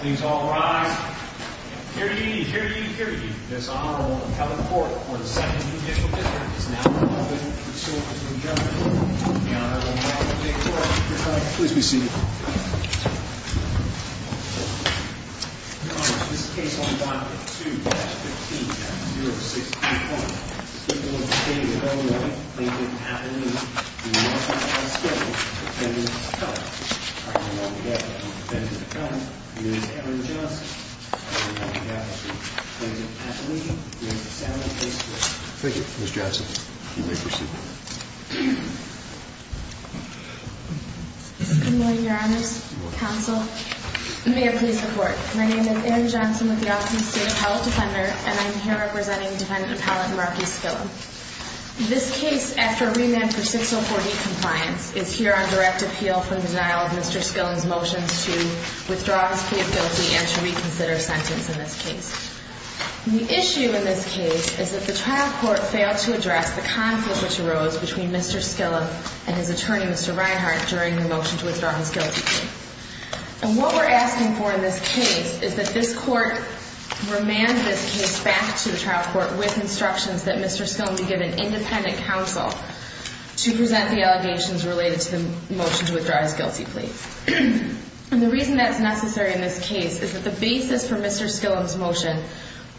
Please all rise. Period, period, period. This Honorable Appellate Court for the second judicial hearing is now open to the Court of Judgment. The Honorable Dr. Dick Clark. Your Honor, please be seated. Your Honor, this is case 1-2-15-063-1. This is a case involving a plaintiff at a meeting. We would like to ask the Defendant Appellate. Our Honorable Defendant Appellate, Ms. Erin Johnson. Your Honor, we have the plaintiff at the meeting. We ask that you stand and face the Court. Thank you, Ms. Johnson. You may be seated. Good morning, Your Honors. Counsel, may I please report. My name is Erin Johnson with the Office of the State Appellate Defender. And I'm here representing Defendant Appellate Murphy Skillom. This case, after a remand for 604D compliance, is here on direct appeal from the denial of Mr. Skillom's motions to withdraw his plea of guilty and to reconsider sentence in this case. The issue in this case is that the trial court failed to address the conflict which arose between Mr. Skillom and his attorney, Mr. Reinhart, during the motion to withdraw his guilty plea. And what we're asking for in this case is that this court remand this case back to the trial court with instructions that Mr. Skillom be given independent counsel to present the allegations related to the motion to withdraw his guilty plea. And the reason that's necessary in this case is that the basis for Mr. Skillom's motion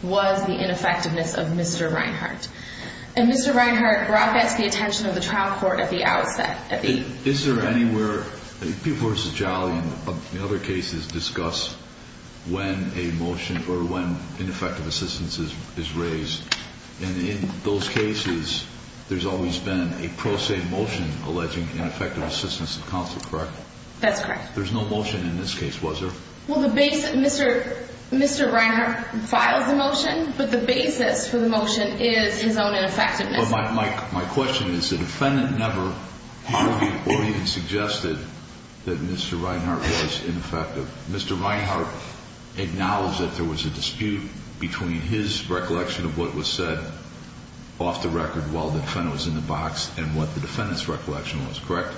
was the ineffectiveness of Mr. Reinhart. And Mr. Reinhart brought that to the attention of the trial court at the outset. Is there anywhere, people who are sejali in other cases discuss when a motion or when ineffective assistance is raised. And in those cases, there's always been a pro se motion alleging ineffective assistance of counsel, correct? That's correct. There's no motion in this case, was there? Well, Mr. Reinhart files the motion, but the basis for the motion is his own ineffectiveness. My question is, the defendant never argued or even suggested that Mr. Reinhart was ineffective. Mr. Reinhart acknowledged that there was a dispute between his recollection of what was said off the record while the defendant was in the box and what the defendant's recollection was, correct?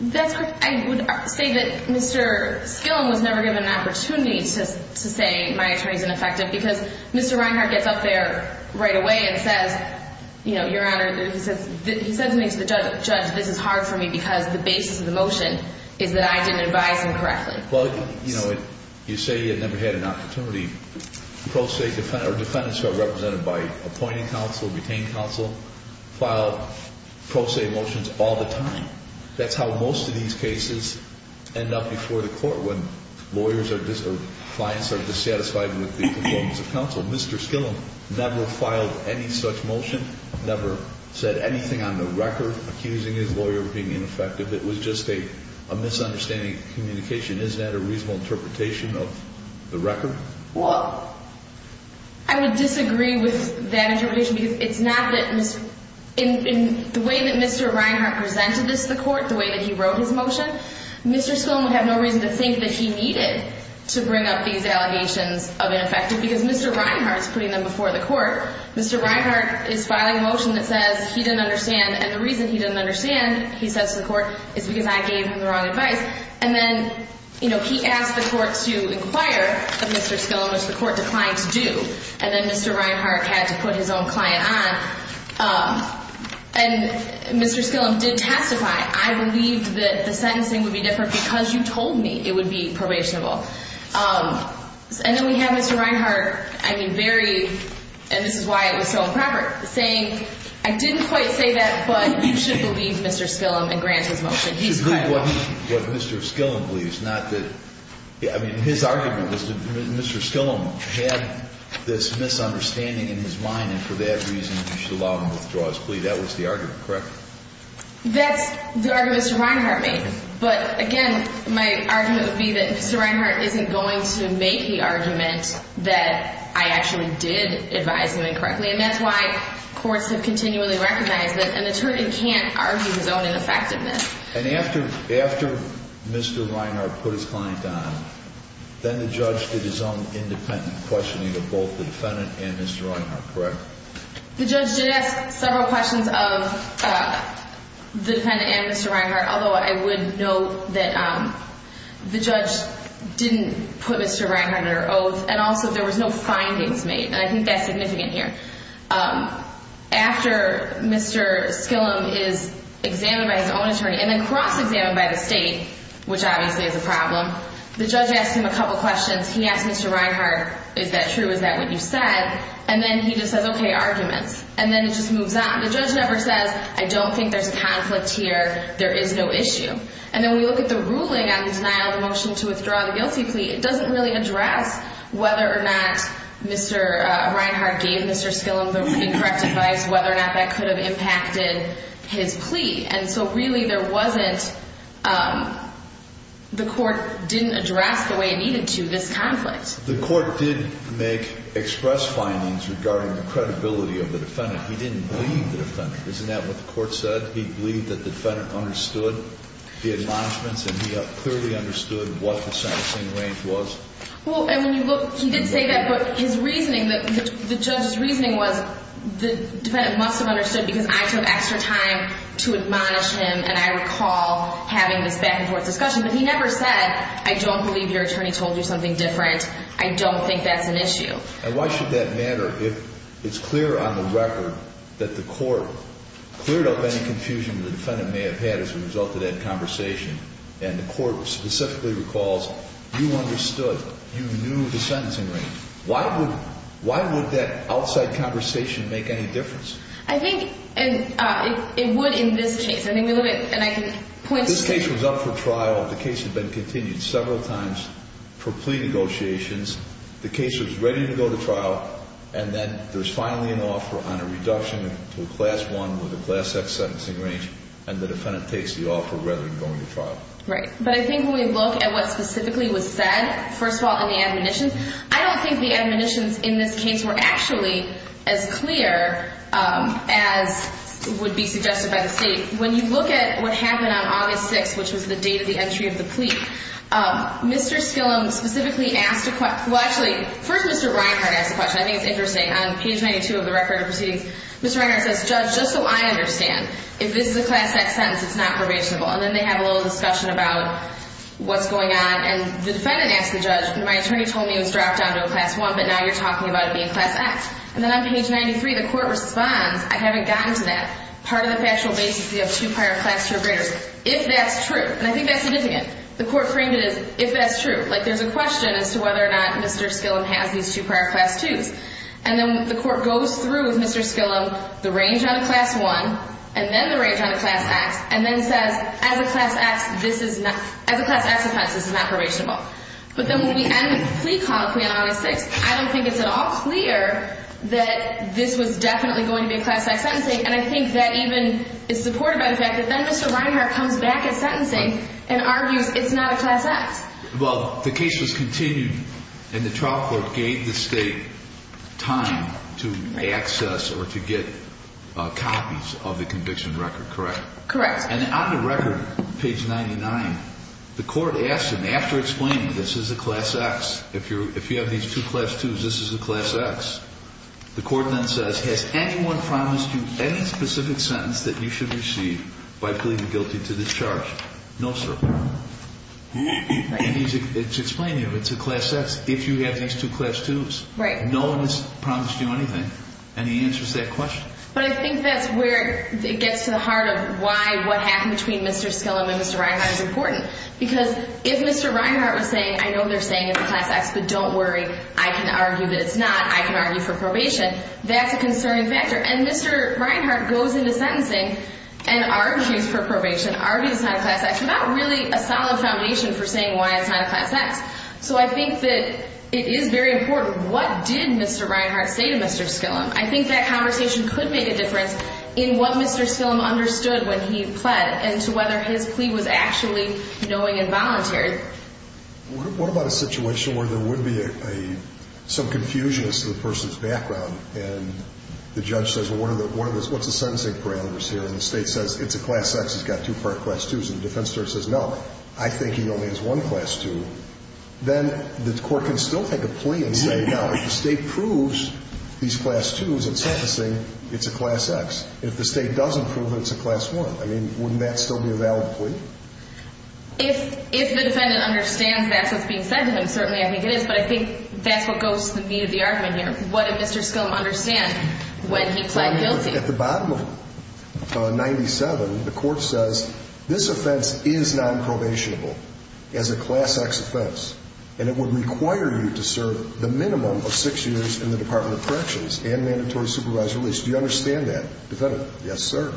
That's correct. I would say that Mr. Skillom was never given an opportunity to say my attorney's ineffective because Mr. Reinhart gets up there right away and says, you know, Your Honor, he says to me, to the judge, this is hard for me because the basis of the motion is that I didn't advise him correctly. Well, you know, you say you never had an opportunity. The pro se defendants are represented by appointing counsel, retained counsel, filed pro se motions all the time. That's how most of these cases end up before the court when lawyers or clients are dissatisfied with the performance of counsel. Mr. Skillom never filed any such motion, never said anything on the record accusing his lawyer of being ineffective. It was just a misunderstanding of communication. Is that a reasonable interpretation of the record? Well, I would disagree with that interpretation because it's not that Mr. In the way that Mr. Reinhart presented this to the court, the way that he wrote his motion, Mr. Skillom would have no reason to think that he needed to bring up these allegations of ineffective because Mr. Reinhart is putting them before the court. Mr. Reinhart is filing a motion that says he didn't understand. And the reason he didn't understand, he says to the court, is because I gave him the wrong advice. And then, you know, he asked the court to inquire of Mr. Skillom, which the court declined to do. And then Mr. Reinhart had to put his own client on. And Mr. Skillom did testify. I believed that the sentencing would be different because you told me it would be probationable. And then we have Mr. Reinhart, I mean, very, and this is why it was so improper, saying, I didn't quite say that, but you should believe Mr. Skillom and grant his motion. You should believe what Mr. Skillom believes, not that, I mean, his argument was that Mr. Skillom had this misunderstanding in his mind. And for that reason, you should allow him to withdraw his plea. That was the argument, correct? That's the argument Mr. Reinhart made. But, again, my argument would be that Mr. Reinhart isn't going to make the argument that I actually did advise him incorrectly. And that's why courts have continually recognized that an attorney can't argue his own ineffectiveness. And after Mr. Reinhart put his client on, then the judge did his own independent questioning of both the defendant and Mr. Reinhart, correct? The judge did ask several questions of the defendant and Mr. Reinhart, although I would note that the judge didn't put Mr. Reinhart under oath, and also there was no findings made. And I think that's significant here. After Mr. Skillom is examined by his own attorney and then cross-examined by the state, which obviously is a problem, the judge asks him a couple questions. He asks Mr. Reinhart, is that true, is that what you said? And then he just says, okay, arguments. And then it just moves on. The judge never says, I don't think there's conflict here, there is no issue. And then when you look at the ruling on the denial of the motion to withdraw the guilty plea, it doesn't really address whether or not Mr. Reinhart gave Mr. Skillom the correct advice, whether or not that could have impacted his plea. And so really there wasn't, the court didn't address the way it needed to this conflict. The court did make express findings regarding the credibility of the defendant. He didn't believe the defendant. Isn't that what the court said? That he believed that the defendant understood the admonishments and he clearly understood what the sentencing range was? Well, and when you look, he did say that, but his reasoning, the judge's reasoning was, the defendant must have understood because I took extra time to admonish him, and I recall having this back-and-forth discussion. But he never said, I don't believe your attorney told you something different. I don't think that's an issue. And why should that matter if it's clear on the record that the court cleared up any confusion that the defendant may have had as a result of that conversation, and the court specifically recalls, you understood, you knew the sentencing range. Why would that outside conversation make any difference? I think it would in this case. I think it would, and I can point to it. This case was up for trial. The case had been continued several times for plea negotiations. The case was ready to go to trial, and then there's finally an offer on a reduction to a Class I with a Class X sentencing range, and the defendant takes the offer rather than going to trial. Right. But I think when we look at what specifically was said, first of all, in the admonitions, I don't think the admonitions in this case were actually as clear as would be suggested by the State. When you look at what happened on August 6th, which was the date of the entry of the plea, Mr. Skillam specifically asked a question. Well, actually, first Mr. Reinhardt asked a question. I think it's interesting. On page 92 of the record of proceedings, Mr. Reinhardt says, Judge, just so I understand, if this is a Class X sentence, it's not probationable, and then they have a little discussion about what's going on, and the defendant asked the judge, my attorney told me it was dropped down to a Class I, but now you're talking about it being Class X. And then on page 93, the court responds, I haven't gotten to that. Part of the factual basis is you have two prior Class III breakers. If that's true, and I think that's significant, the court framed it as if that's true, like there's a question as to whether or not Mr. Skillam has these two prior Class IIs. And then the court goes through with Mr. Skillam the range on a Class I and then the range on a Class X and then says, as a Class X offense, this is not probationable. But then when we end the plea colloquy on August 6th, I don't think it's at all clear that this was definitely going to be a Class X sentencing, and I think that even is supported by the fact that then Mr. Reinhart comes back at sentencing and argues it's not a Class X. Well, the case was continued, and the trial court gave the State time to access or to get copies of the conviction record, correct? Correct. And on the record, page 99, the court asked him, after explaining this is a Class X, if you have these two Class IIs, this is a Class X, the court then says, has anyone promised you any specific sentence that you should receive by pleading guilty to this charge? No, sir. And he's explaining it, it's a Class X, if you have these two Class IIs. Right. No one has promised you anything, and he answers that question. But I think that's where it gets to the heart of why what happened between Mr. Skillam and Mr. Reinhart is important. Because if Mr. Reinhart was saying, I know they're saying it's a Class X, but don't worry, I can argue that it's not, I can argue for probation, that's a concerning factor. And Mr. Reinhart goes into sentencing and argues for probation, argues it's not a Class X, without really a solid foundation for saying why it's not a Class X. So I think that it is very important what did Mr. Reinhart say to Mr. Skillam. I think that conversation could make a difference in what Mr. Skillam understood when he pled and to whether his plea was actually knowing and voluntary. What about a situation where there would be some confusion as to the person's background, and the judge says, well, what's the sentencing parameters here? And the State says, it's a Class X, it's got two part Class IIs. And the defense attorney says, no, I think he only has one Class II. Then the court can still take a plea and say, no, if the State proves these Class IIs in sentencing, it's a Class X. If the State doesn't prove it, it's a Class I. I mean, wouldn't that still be a valid plea? If the defendant understands that's what's being said to him, certainly I think it is, but I think that's what goes to the meat of the argument here. What did Mr. Skillam understand when he pled guilty? At the bottom of 97, the court says, this offense is nonprobationable as a Class X offense, and it would require you to serve the minimum of six years in the Department of Corrections and mandatory supervised release. Do you understand that, defendant? Yes, sir.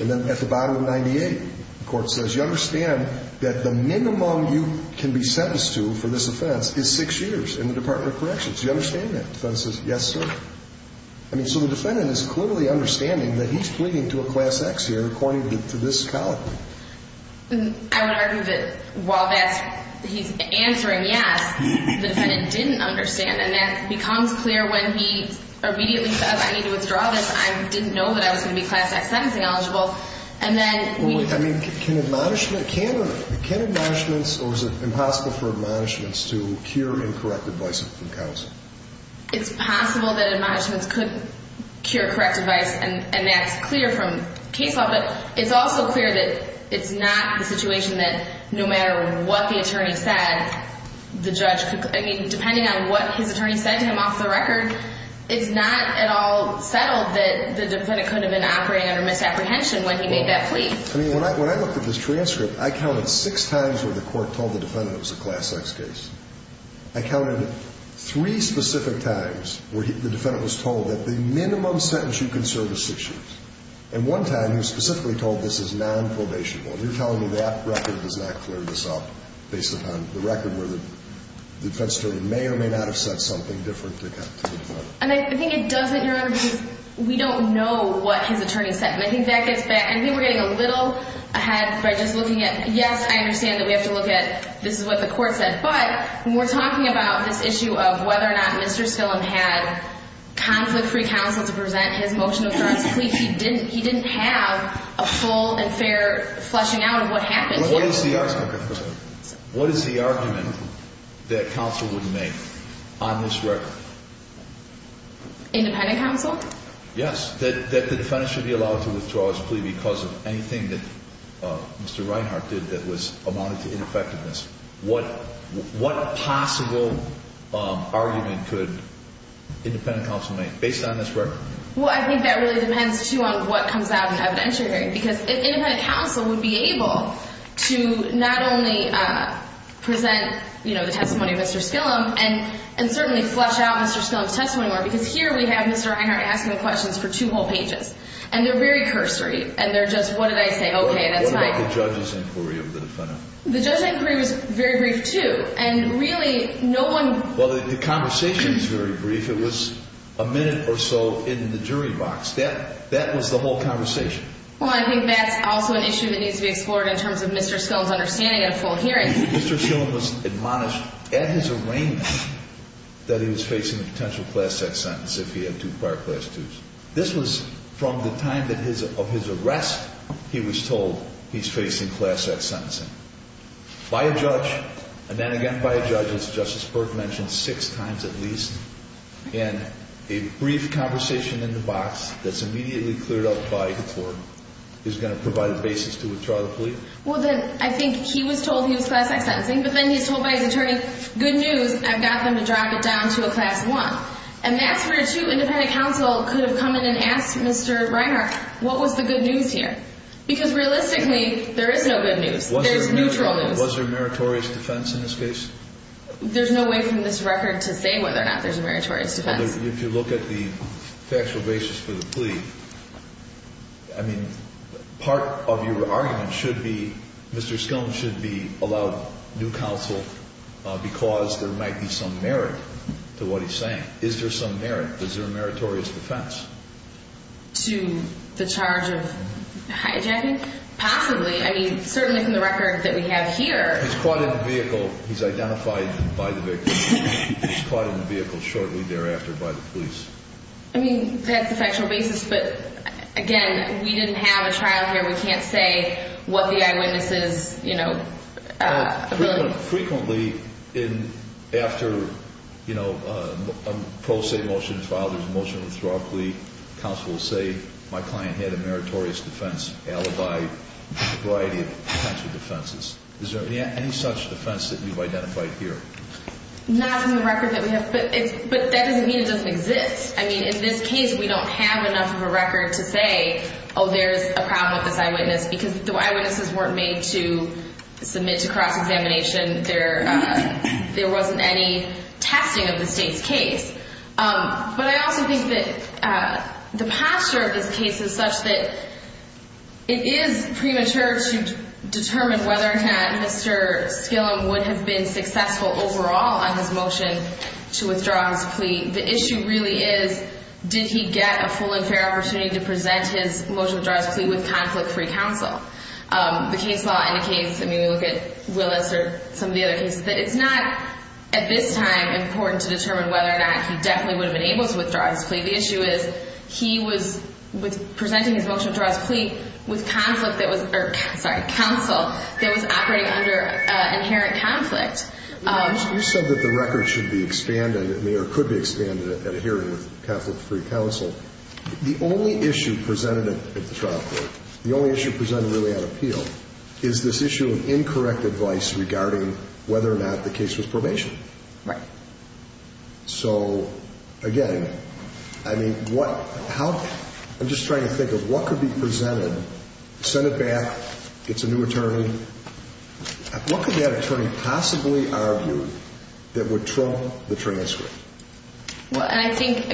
And then at the bottom of 98, the court says, you understand that the minimum you can be sentenced to for this offense is six years in the Department of Corrections. Do you understand that? The defendant says, yes, sir. I mean, so the defendant is clearly understanding that he's pleading to a Class X here according to this column. I would argue that while he's answering yes, the defendant didn't understand, and that becomes clear when he immediately says, I need to withdraw this. I didn't know that I was going to be Class X sentencing eligible. And then we – I mean, can admonishments – can or – can admonishments, or is it impossible for admonishments to cure incorrect advice from counsel? It's possible that admonishments could cure correct advice, and that's clear from case law, but it's also clear that it's not the situation that no matter what the attorney said, the judge could – I mean, depending on what his attorney said to him off the record, it's not at all settled that the defendant could have been operating under misapprehension when he made that plea. I mean, when I looked at this transcript, I counted six times where the court told the defendant it was a Class X case. I counted three specific times where the defendant was told that the minimum sentence you can serve is six years. And one time he was specifically told this is nonprobationable, and you're telling me that record does not clear this up based upon the record where the defense attorney may or may not have said something different to the court. And I think it doesn't, Your Honor, because we don't know what his attorney said. And I think that gets back – I think we're getting a little ahead by just looking at – yes, I understand that we have to look at this is what the court said, but when we're talking about this issue of whether or not Mr. Stillam had conflict-free counsel to present his motion of jurisdiction, he didn't have a full and fair fleshing out of what happened here. What is the argument that counsel would make on this record? Independent counsel? Yes, that the defendant should be allowed to withdraw his plea because of anything that Mr. Reinhart did that was amounting to ineffectiveness. What possible argument could independent counsel make based on this record? Well, I think that really depends, too, on what comes out in evidentiary, because independent counsel would be able to not only present the testimony of Mr. Stillam and certainly flesh out Mr. Stillam's testimony more, because here we have Mr. Reinhart asking questions for two whole pages, and they're very cursory, and they're just, what did I say? Okay, that's fine. What about the judge's inquiry of the defendant? The judge's inquiry was very brief, too, and really no one – Well, the conversation was very brief. It was a minute or so in the jury box. That was the whole conversation. Well, I think that's also an issue that needs to be explored in terms of Mr. Stillam's understanding at a full hearing. Mr. Stillam was admonished at his arraignment that he was facing a potential Class X sentence if he had two prior Class IIs. This was from the time of his arrest he was told he's facing Class X sentencing by a judge, and then again by a judge, as Justice Burke mentioned, six times at least. And a brief conversation in the box that's immediately cleared up by the court is going to provide a basis to withdraw the plea? Well, then I think he was told he was Class X sentencing, but then he's told by his attorney, good news, I've got them to drop it down to a Class I. And that's where two independent counsel could have come in and asked Mr. Reinhart, what was the good news here? Because realistically, there is no good news. There's neutral news. Was there a meritorious defense in this case? There's no way from this record to say whether or not there's a meritorious defense. If you look at the factual basis for the plea, I mean, part of your argument should be Mr. Stillam should be allowed new counsel because there might be some merit to what he's saying. Is there some merit? Is there a meritorious defense? To the charge of hijacking? Possibly. I mean, certainly from the record that we have here. He's caught in the vehicle. He's identified by the victim. He's caught in the vehicle shortly thereafter by the police. I mean, that's the factual basis. But, again, we didn't have a trial here. We can't say what the eyewitnesses, you know, ability. Frequently, after, you know, a pro se motion is filed, there's a motion to withdraw a plea, counsel will say my client had a meritorious defense, alibi, a variety of types of defenses. Is there any such defense that you've identified here? Not from the record that we have. But that doesn't mean it doesn't exist. I mean, in this case, we don't have enough of a record to say, oh, there's a problem with this eyewitness because the eyewitnesses weren't made to submit to cross-examination. There wasn't any testing of the state's case. But I also think that the posture of this case is such that it is premature to determine whether or not Mr. Skillam would have been successful overall on his motion to withdraw his plea. The issue really is did he get a full and fair opportunity to present his motion to withdraw his plea with conflict-free counsel. The case law indicates, I mean, we look at Willis or some of the other cases, that it's not at this time important to determine whether or not he definitely would have been able to withdraw his plea. The issue is he was presenting his motion to withdraw his plea with counsel that was operating under inherent conflict. You said that the record should be expanded or could be expanded at a hearing with conflict-free counsel. The only issue presented at the trial court, the only issue presented really at appeal, is this issue of incorrect advice regarding whether or not the case was probation. Right. So, again, I mean, what – how – I'm just trying to think of what could be presented, send it back, it's a new attorney. What could that attorney possibly argue that would trump the transcript? Well, and I think,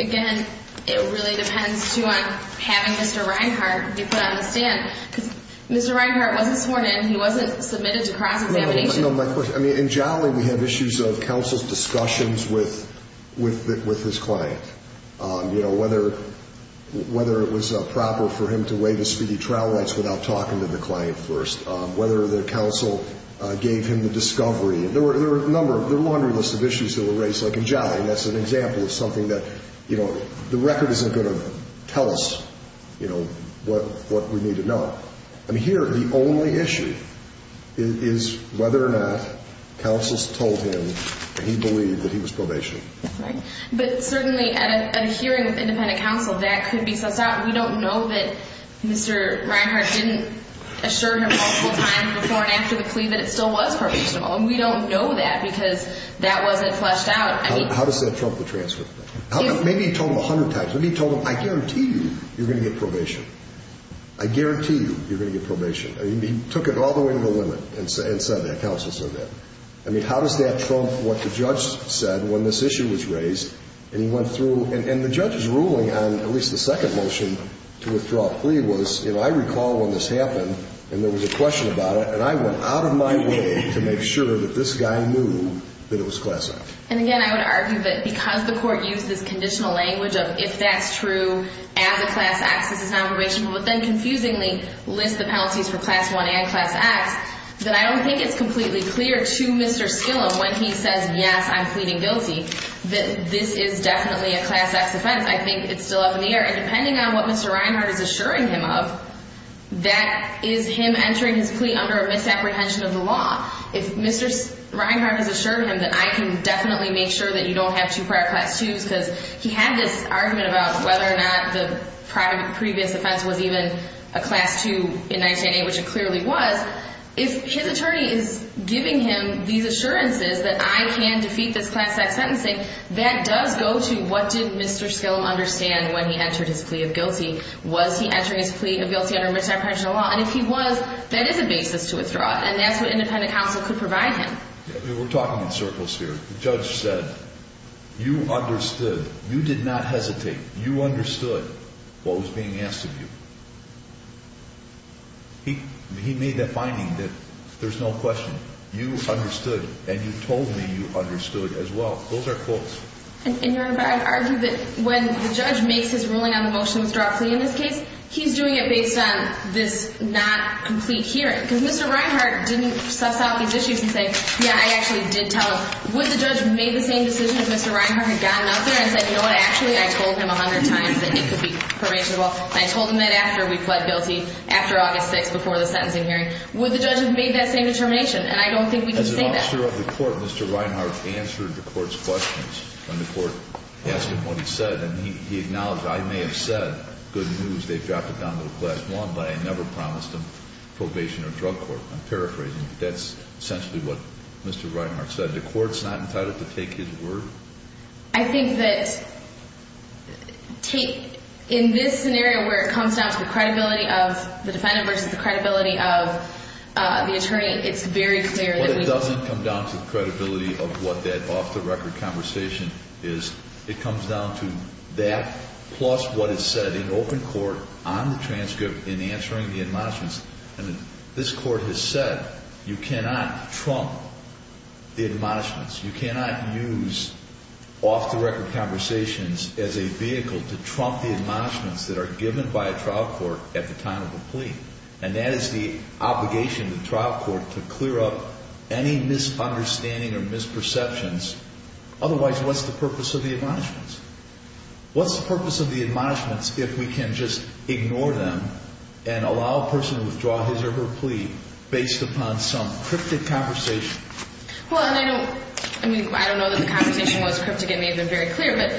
again, it really depends, too, on having Mr. Reinhart be put on the stand. Because Mr. Reinhart wasn't sworn in. He wasn't submitted to cross-examination. No, no, my question – I mean, in Jolly, we have issues of counsel's discussions with his client, you know, whether it was proper for him to waive his speedy trial rights without talking to the client first, whether the counsel gave him the discovery. There were a number – there were a laundry list of issues that were raised, like in Jolly. That's an example of something that, you know, the record isn't going to tell us, you know, what we need to know. I mean, here, the only issue is whether or not counsel's told him that he believed that he was probation. Right. But certainly, at a hearing with independent counsel, that could be sussed out. We don't know that Mr. Reinhart didn't assure him multiple times before and after the plea that it still was probationable. And we don't know that because that wasn't fleshed out. How does that trump the transcript? Maybe he told him a hundred times. Maybe he told him, I guarantee you you're going to get probation. I guarantee you you're going to get probation. I mean, he took it all the way to the limit and said that. Counsel said that. I mean, how does that trump what the judge said when this issue was raised? And he went through – and the judge's ruling on at least the second motion to withdraw a plea was, you know, I recall when this happened and there was a question about it, and I went out of my way to make sure that this guy knew that it was Class X. And again, I would argue that because the Court used this conditional language of if that's true and the Class X is now probationable, but then confusingly lists the penalties for Class I and Class X, then I don't think it's completely clear to Mr. Skillam when he says, yes, I'm pleading guilty, that this is definitely a Class X offense. I think it's still up in the air. And depending on what Mr. Reinhardt is assuring him of, that is him entering his plea under a misapprehension of the law. If Mr. Reinhardt has assured him that I can definitely make sure that you don't have two prior Class IIs because he had this argument about whether or not the previous offense was even a Class II in 1908, which it clearly was, if his attorney is giving him these assurances that I can defeat this Class X sentencing, that does go to what did Mr. Skillam understand when he entered his plea of guilty? Was he entering his plea of guilty under misapprehension of the law? And if he was, that is a basis to withdraw it. And that's what independent counsel could provide him. We're talking in circles here. The judge said, you understood. You did not hesitate. You understood what was being asked of you. He made the finding that there's no question. You understood, and you told me you understood as well. Those are quotes. And, Your Honor, but I'd argue that when the judge makes his ruling on the motion to withdraw a plea in this case, he's doing it based on this not complete hearing because Mr. Reinhardt didn't suss out these issues and say, yeah, I actually did tell him. Would the judge have made the same decision if Mr. Reinhardt had gotten out there and said, you know what, actually, I told him a hundred times that it could be probationable, and I told him that after we pled guilty, after August 6th, before the sentencing hearing? Would the judge have made that same determination? And I don't think we can say that. As an officer of the court, Mr. Reinhardt answered the court's questions when the court asked him what he said. And he acknowledged, I may have said good news, they've dropped it down to the Class I, but I never promised them probation or drug court. I'm paraphrasing, but that's essentially what Mr. Reinhardt said. The court's not entitled to take his word? I think that in this scenario where it comes down to the credibility of the defendant versus the credibility of the attorney, it's very clear that we can't. Well, it doesn't come down to the credibility of what that off-the-record conversation is. It comes down to that plus what is said in open court on the transcript in answering the admonishments. And this court has said you cannot trump the admonishments. You cannot use off-the-record conversations as a vehicle to trump the admonishments that are given by a trial court at the time of the plea. And that is the obligation of the trial court to clear up any misunderstanding or misperceptions. Otherwise, what's the purpose of the admonishments? What's the purpose of the admonishments if we can just ignore them and allow a person to withdraw his or her plea based upon some cryptic conversation? Well, and I don't know that the conversation was cryptic. It made them very clear. But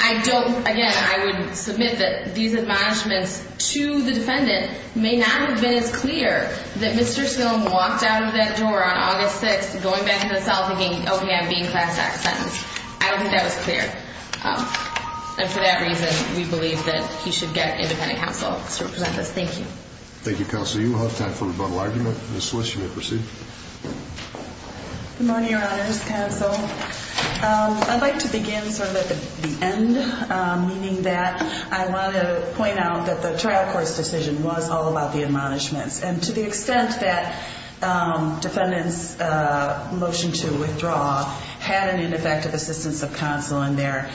I don't, again, I would submit that these admonishments to the defendant may not have been as clear that Mr. Sloan walked out of that door on August 6th going back to the cell thinking, okay, I'm being class-act sentenced. I don't think that was clear. And for that reason, we believe that he should get independent counsel to represent this. Thank you. Thank you, Counsel. You will have time for a rebuttal argument. Ms. Swiss, you may proceed. Good morning, Your Honors. Counsel, I'd like to begin sort of at the end, meaning that I want to point out that the trial court's decision was all about the admonishments. And to the extent that defendants' motion to withdraw had an ineffective assistance of counsel in there,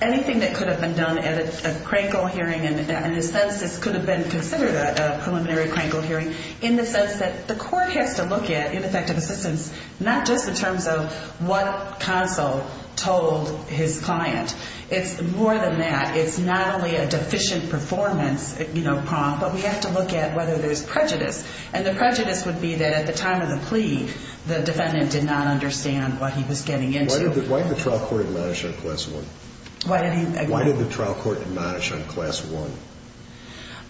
anything that could have been done at a Krankel hearing, and in a sense this could have been considered a preliminary Krankel hearing in the sense that the court has to look at ineffective assistance not just in terms of what counsel told his client. It's more than that. It's not only a deficient performance prompt, but we have to look at whether there's prejudice. And the prejudice would be that at the time of the plea, the defendant did not understand what he was getting into. Why did the trial court admonish on Class 1? Why did he agree? Why did the trial court admonish on Class 1?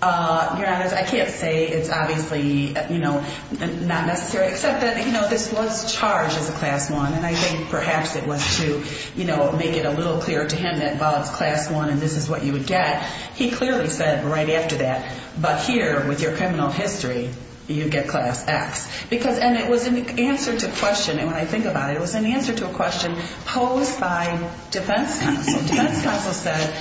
Your Honors, I can't say it's obviously not necessary, except that this was charged as a Class 1, and I think perhaps it was to make it a little clearer to him that while it's Class 1 and this is what you would get, he clearly said right after that, but here with your criminal history, you get Class X. And it was an answer to a question, and when I think about it, it was an answer to a question posed by defense counsel. Defense counsel said,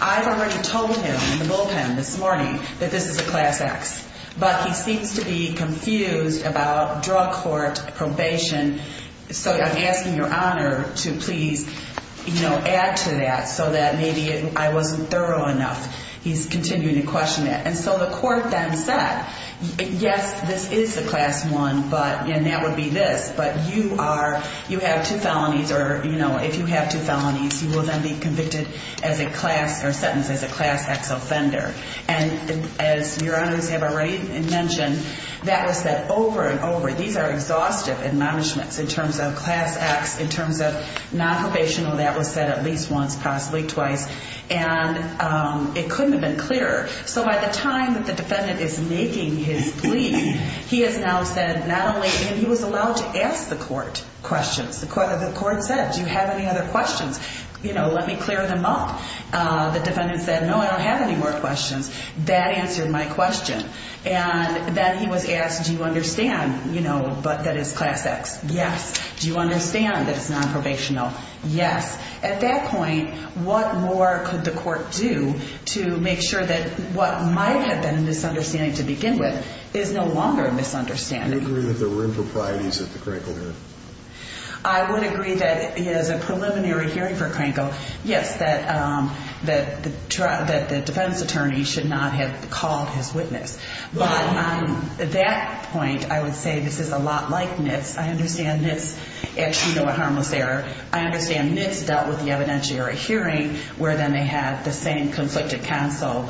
I've already told him in the bullpen this morning that this is a Class X, but he seems to be confused about drug court probation. So I'm asking your Honor to please add to that so that maybe I wasn't thorough enough. He's continuing to question that. And so the court then said, yes, this is a Class 1, and that would be this, but you have two felonies, or if you have two felonies, you will then be convicted as a class or sentenced as a Class X offender. And as your Honor's have already mentioned, that was said over and over. These are exhaustive admonishments in terms of Class X, in terms of nonprobational. That was said at least once, possibly twice, and it couldn't have been clearer. So by the time that the defendant is making his plea, he has now said not only, and he was allowed to ask the court questions. The court said, do you have any other questions? You know, let me clear them up. The defendant said, no, I don't have any more questions. That answered my question. And then he was asked, do you understand, you know, that that is Class X? Yes. Do you understand that it's nonprobational? Yes. At that point, what more could the court do to make sure that what might have been a misunderstanding to begin with is no longer a misunderstanding? Do you agree that there were improprieties at the Cranco hearing? I would agree that he has a preliminary hearing for Cranco, yes, that the defense attorney should not have called his witness. But at that point, I would say this is a lot like NITS. I understand NITS, as you know, at Harmless Error. I understand NITS dealt with the evidentiary hearing, where then they had the same conflicted counsel,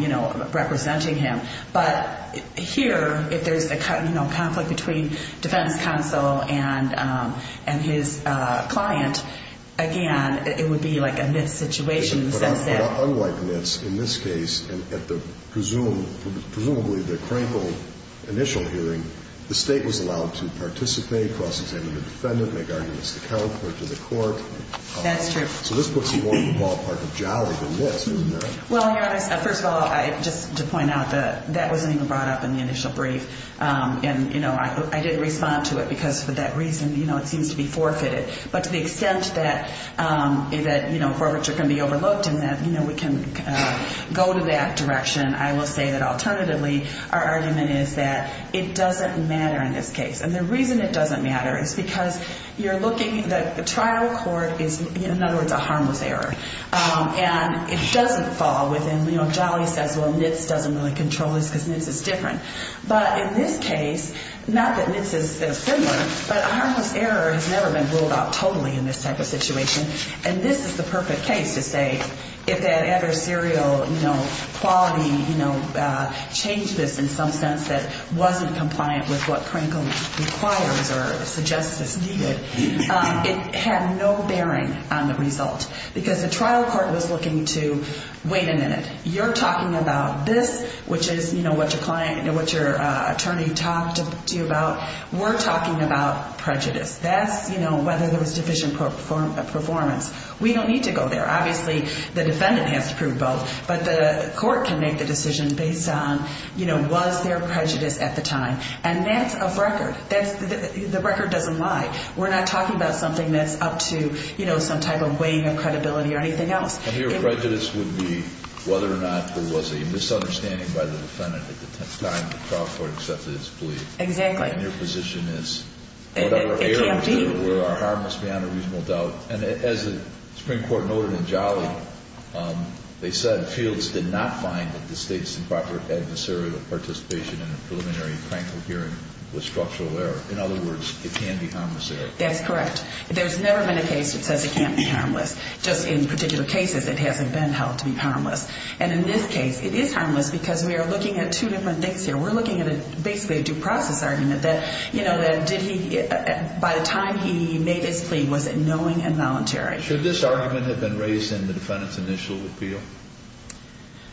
you know, representing him. But here, if there's a conflict between defense counsel and his client, again, it would be like a NITS situation. But unlike NITS, in this case, at the presumably the Cranco initial hearing, the state was allowed to participate, cross-examine the defendant, make arguments to counsel or to the court. That's true. So this puts you on the ballpark of Jolly, the NITS, isn't it? Well, Your Honor, first of all, just to point out, that wasn't even brought up in the initial brief. And, you know, I didn't respond to it because for that reason, you know, it seems to be forfeited. But to the extent that, you know, forfeiture can be overlooked and that, you know, we can go to that direction, I will say that alternatively, our argument is that it doesn't matter in this case. And the reason it doesn't matter is because you're looking at the trial court is, in other words, a harmless error. And it doesn't fall within, you know, Jolly says, well, NITS doesn't really control this because NITS is different. But in this case, not that NITS is similar, but a harmless error has never been ruled out totally in this type of situation. And this is the perfect case to say, if that adversarial, you know, quality, you know, changed this in some sense that wasn't compliant with what Prankle requires or suggests is needed, it had no bearing on the result. Because the trial court was looking to, wait a minute, you're talking about this, which is, you know, what your attorney talked to you about, we're talking about prejudice. That's, you know, whether there was deficient performance. We don't need to go there. Obviously, the defendant has to prove both. But the court can make the decision based on, you know, was there prejudice at the time. And that's a record. The record doesn't lie. We're not talking about something that's up to, you know, some type of weighing of credibility or anything else. And your prejudice would be whether or not there was a misunderstanding by the defendant at the time the trial court accepted its plea. Exactly. And your position is whatever errors there were are harmless beyond a reasonable doubt. And as the Supreme Court noted in Jolly, they said, Fields did not find that the State's improper adversarial participation in a preliminary Prankle hearing was structural error. In other words, it can be harmless error. That's correct. There's never been a case that says it can't be harmless. Just in particular cases, it hasn't been held to be harmless. And in this case, it is harmless because we are looking at two different things here. We're looking at basically a due process argument that, you know, that did he, by the time he made his plea, was it knowing and voluntary. Should this argument have been raised in the defendant's initial appeal?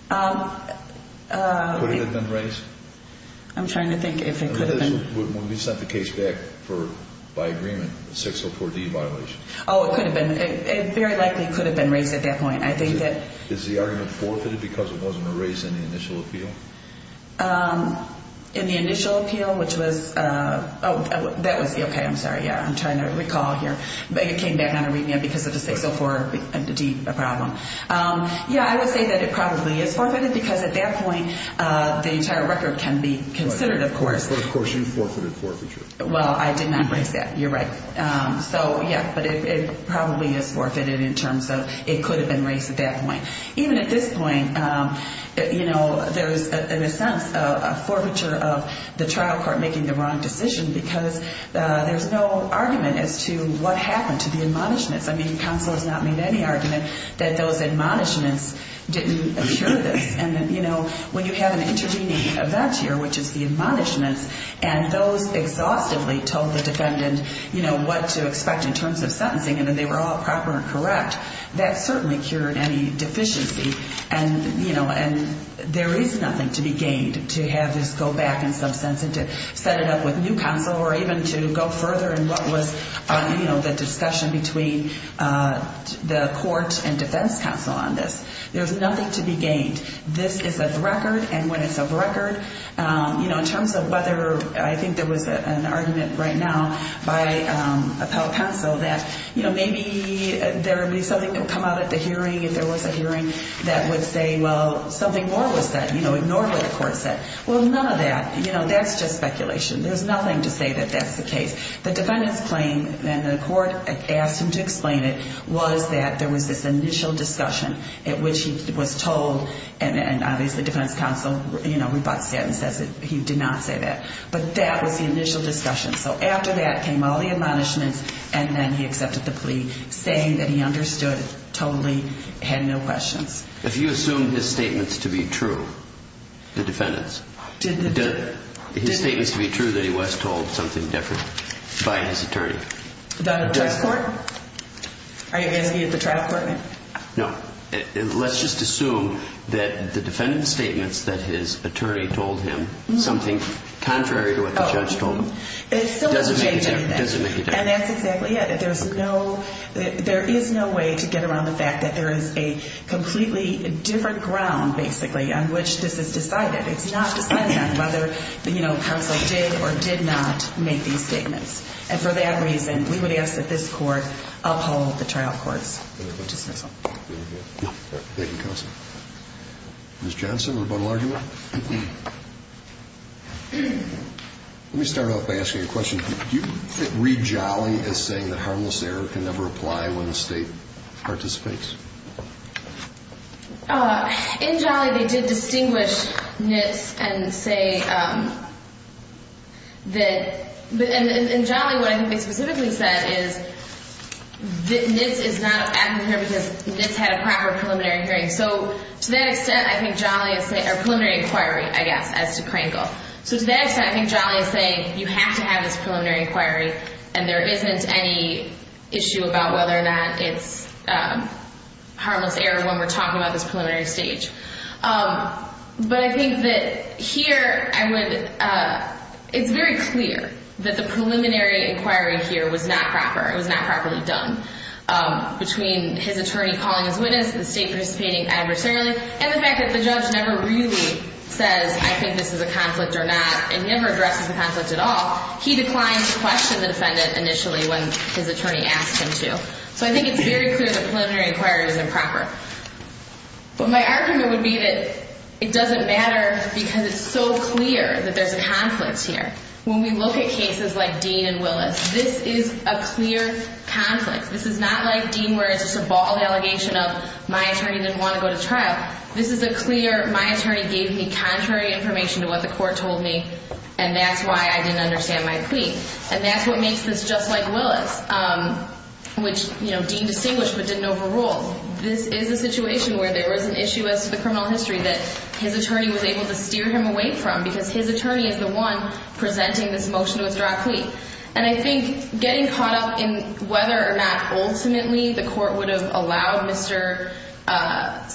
Could it have been raised? I'm trying to think if it could have been. When we sent the case back for, by agreement, 604D violation. Oh, it could have been. It very likely could have been raised at that point. I think that. Is the argument forfeited because it wasn't raised in the initial appeal? In the initial appeal, which was, oh, that was the, okay, I'm sorry. Yeah, I'm trying to recall here. But it came back on a remand because of the 604D problem. Yeah, I would say that it probably is forfeited because at that point, the entire record can be considered, of course. Of course, you forfeited forfeiture. Well, I did not raise that. You're right. So, yeah, but it probably is forfeited in terms of it could have been raised at that point. Even at this point, you know, there's, in a sense, a forfeiture of the trial court making the wrong decision because there's no argument as to what happened to the admonishments. I mean, counsel has not made any argument that those admonishments didn't occur this. And, you know, when you have an intervening event here, which is the admonishments, and those exhaustively told the defendant, you know, what to expect in terms of sentencing and that they were all proper and correct, that certainly cured any deficiency. And, you know, there is nothing to be gained to have this go back in some sense and to set it up with new counsel or even to go further in what was, you know, the discussion between the court and defense counsel on this. There's nothing to be gained. This is a record, and when it's a record, you know, in terms of whether I think there was an argument right now by appellate counsel that, you know, maybe there would be something that would come out at the hearing if there was a hearing that would say, well, something more was said, you know, ignore what the court said. Well, none of that. You know, that's just speculation. There's nothing to say that that's the case. The defendant's claim, and the court asked him to explain it, was that there was this initial discussion at which he was told, and obviously defense counsel, you know, rebuts that and says that he did not say that, but that was the initial discussion. So after that came all the admonishments, and then he accepted the plea, saying that he understood totally, had no questions. If you assume his statements to be true, the defendant's, his statements to be true that he was told something different by his attorney. The trust court? Are you asking me if the trust court? No. Let's just assume that the defendant's statements that his attorney told him, something contrary to what the judge told him, doesn't make a difference. Doesn't make a difference. And that's exactly it. There's no, there is no way to get around the fact that there is a completely different ground, basically, on which this is decided. It's not decided on whether, you know, counsel did or did not make these statements. And for that reason, we would ask that this court uphold the trial courts. Thank you, counsel. Ms. Johnson, rebuttal argument? Let me start off by asking a question. Do you read Jolly as saying that harmless error can never apply when the state participates? In Jolly, they did distinguish NITS and say that, and in Jolly, what I think they specifically said is that NITS is not a bad thing because NITS had a proper preliminary hearing. So to that extent, I think Jolly is saying, or preliminary inquiry, I guess, as to Krangel. So to that extent, I think Jolly is saying you have to have this preliminary inquiry and there isn't any issue about whether or not it's harmless error when we're talking about this preliminary stage. But I think that here, I would, it's very clear that the preliminary inquiry here was not proper. It was not properly done. Between his attorney calling his witness, the state participating adversarially, and the fact that the judge never really says, I think this is a conflict or not, and never addresses the conflict at all, he declined to question the defendant initially when his attorney asked him to. So I think it's very clear that preliminary inquiry is improper. But my argument would be that it doesn't matter because it's so clear that there's a conflict here. When we look at cases like Dean and Willis, this is a clear conflict. This is not like Dean where it's just a bald allegation of my attorney didn't want to go to trial. This is a clear, my attorney gave me contrary information to what the court told me, and that's why I didn't understand my plea. And that's what makes this just like Willis, which Dean distinguished but didn't overrule. This is a situation where there was an issue as to the criminal history that his attorney was able to steer him away from because his attorney is the one presenting this motion to withdraw a plea. And I think getting caught up in whether or not ultimately the court would have allowed Mr.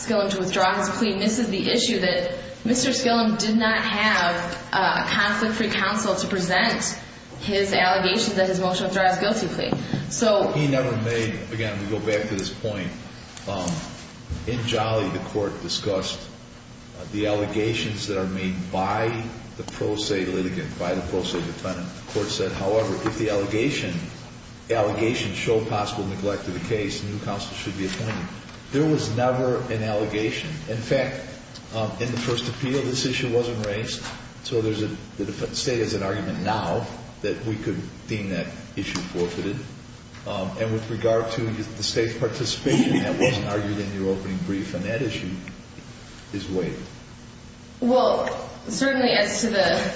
Gillum to withdraw his plea misses the issue that Mr. Gillum did not have a conflict-free counsel to present his allegation that his motion to withdraw his guilty plea. He never made, again, we go back to this point. In Jolly, the court discussed the allegations that are made by the pro se litigant, by the pro se defendant. The court said, however, if the allegations show possible neglect of the case, a new counsel should be appointed. There was never an allegation. In fact, in the first appeal, this issue wasn't raised, so the defendant's state has an argument now that we could deem that issue forfeited. And with regard to the state's participation, that wasn't argued in your opening brief, and that issue is waived. Well, certainly as to the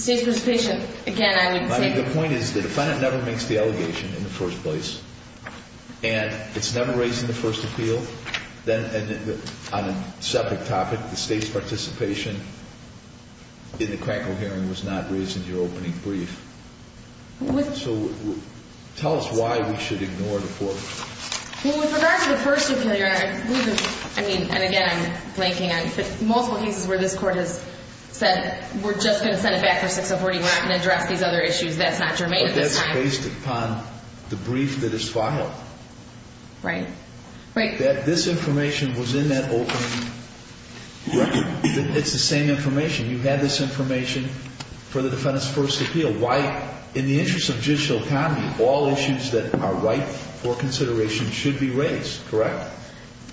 state's participation, again, I would say the point is the defendant never makes the allegation in the first place, and it's never raised in the first appeal. Then on a separate topic, the state's participation in the Krankel hearing was not raised in your opening brief. So tell us why we should ignore the court. Well, with regard to the first appeal, Your Honor, I mean, and again, I'm blanking on multiple cases where this court has said, we're just going to send it back to 6041 and address these other issues. That's not germane at this time. It's based upon the brief that is filed. Right. This information was in that opening record. It's the same information. You had this information for the defendant's first appeal. Why, in the interest of judicial comedy, all issues that are right for consideration should be raised, correct?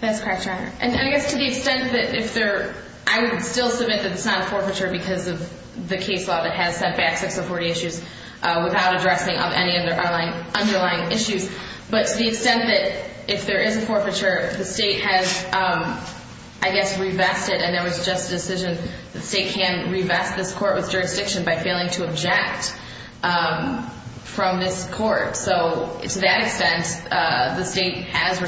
That's correct, Your Honor. And I guess to the extent that if there – I would still submit that it's not a forfeiture because of the case law that has set back 6040 issues without addressing any underlying issues. But to the extent that if there is a forfeiture, the state has, I guess, revested, and there was just a decision the state can revest this court with jurisdiction by failing to object from this court. So to that extent, the state has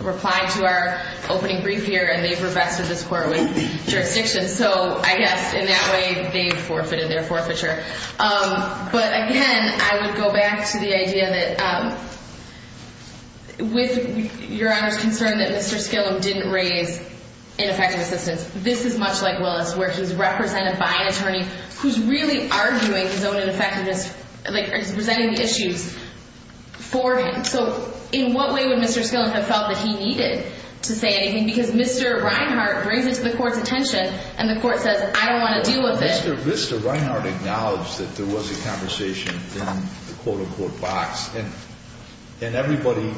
replied to our opening brief here, and they've revested this court with jurisdiction. So I guess in that way, they've forfeited their forfeiture. But, again, I would go back to the idea that with Your Honor's concern that Mr. Skillam didn't raise ineffective assistance, this is much like Willis where he's represented by an attorney who's really arguing his own ineffectiveness, like presenting the issues for him. So in what way would Mr. Skillam have felt that he needed to say anything? Because Mr. Reinhart brings it to the court's attention, and the court says, I don't want to deal with it. Mr. Reinhart acknowledged that there was a conversation in the quote-unquote box, and everybody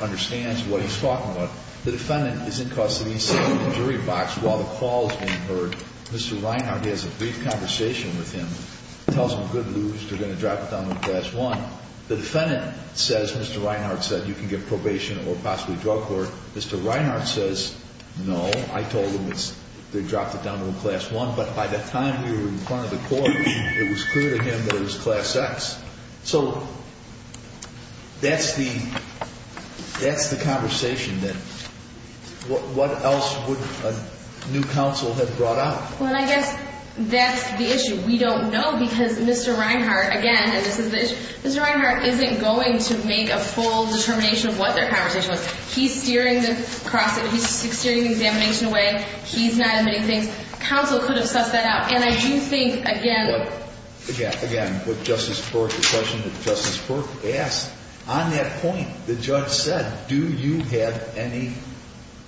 understands what he's talking about. The defendant is in custody sitting in the jury box while the call is being heard. Mr. Reinhart has a brief conversation with him, tells him good news, they're going to drop it down to a Class I. The defendant says, Mr. Reinhart said, you can get probation or possibly drug court. Mr. Reinhart says, no, I told him they dropped it down to a Class I. But by the time we were in front of the court, it was clear to him that it was Class X. So that's the conversation. What else would a new counsel have brought up? Well, I guess that's the issue. We don't know because Mr. Reinhart, again, and this is the issue, Mr. Reinhart isn't going to make a full determination of what their conversation was. He's steering the cross-examination away. He's not admitting things. Counsel could have sussed that out. And I do think, again. Again, with Justice Burke, the question that Justice Burke asked, on that point, the judge said, do you have any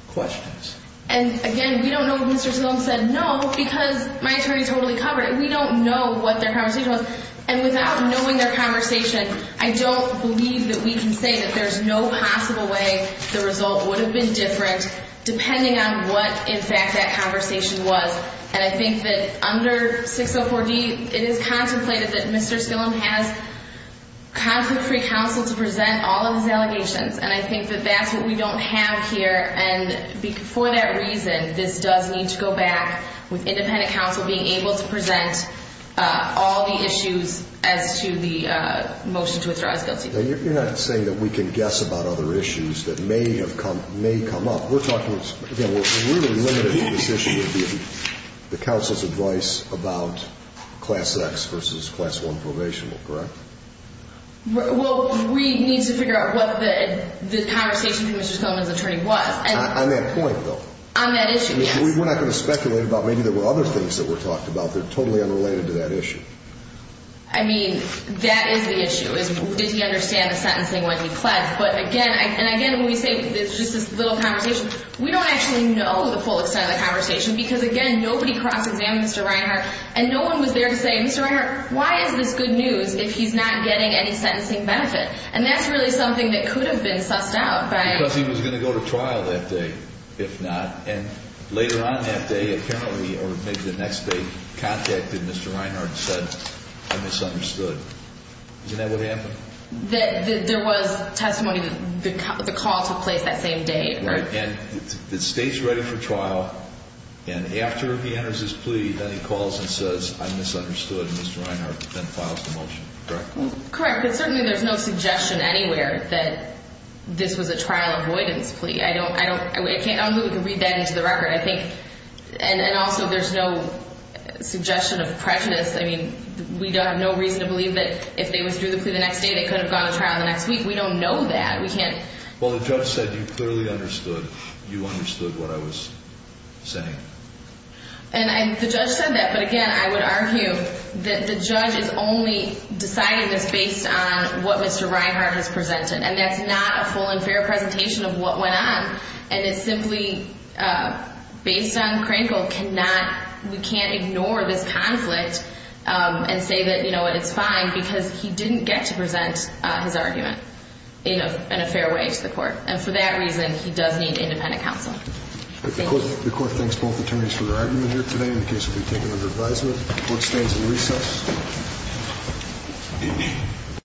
questions? And, again, we don't know what Mr. Tillum said. No, because my attorney totally covered it. We don't know what their conversation was. And without knowing their conversation, I don't believe that we can say that there's no possible way the result would have been different, depending on what, in fact, that conversation was. And I think that under 604D, it is contemplated that Mr. Tillum has concrete free counsel to present all of his allegations. And I think that that's what we don't have here. And for that reason, this does need to go back with independent counsel being able to present all the issues as to the motion to withdraw his guilty plea. Now, you're not saying that we can guess about other issues that may have come up. We're talking, again, we're really limited to this issue of the counsel's advice about Class X versus Class I probation, correct? Well, we need to figure out what the conversation with Mr. Tillum's attorney was. On that point, though. On that issue, yes. We're not going to speculate about maybe there were other things that were talked about that are totally unrelated to that issue. I mean, that is the issue. Did he understand the sentencing when he pledged? But, again, and again, when we say it's just this little conversation, we don't actually know the full extent of the conversation because, again, nobody cross-examined Mr. Reinhart. And no one was there to say, Mr. Reinhart, why is this good news if he's not getting any sentencing benefit? And that's really something that could have been sussed out by – Because he was going to go to trial that day, if not. And later on that day, apparently, or maybe the next day, contacted Mr. Reinhart and said, I misunderstood. Isn't that what happened? There was testimony. The call took place that same day. Right. And the state's ready for trial. And after he enters his plea, then he calls and says, I misunderstood. And Mr. Reinhart then files the motion. Correct? Correct. But certainly there's no suggestion anywhere that this was a trial avoidance plea. I don't – I can't – I don't think we can read that into the record. I think – and also there's no suggestion of prejudice. I mean, we have no reason to believe that if they withdrew the plea the next day, they could have gone to trial the next week. We don't know that. We can't – Well, the judge said you clearly understood. You understood what I was saying. And the judge said that. But, again, I would argue that the judge is only deciding this based on what Mr. Reinhart has presented. And that's not a full and fair presentation of what went on. And it's simply based on Krankel cannot – we can't ignore this conflict and say that, you know what, it's fine because he didn't get to present his argument in a fair way to the court. And for that reason, he does need independent counsel. Thank you. The court thanks both attorneys for their argument here today. The case will be taken under advisement. The court stands in recess.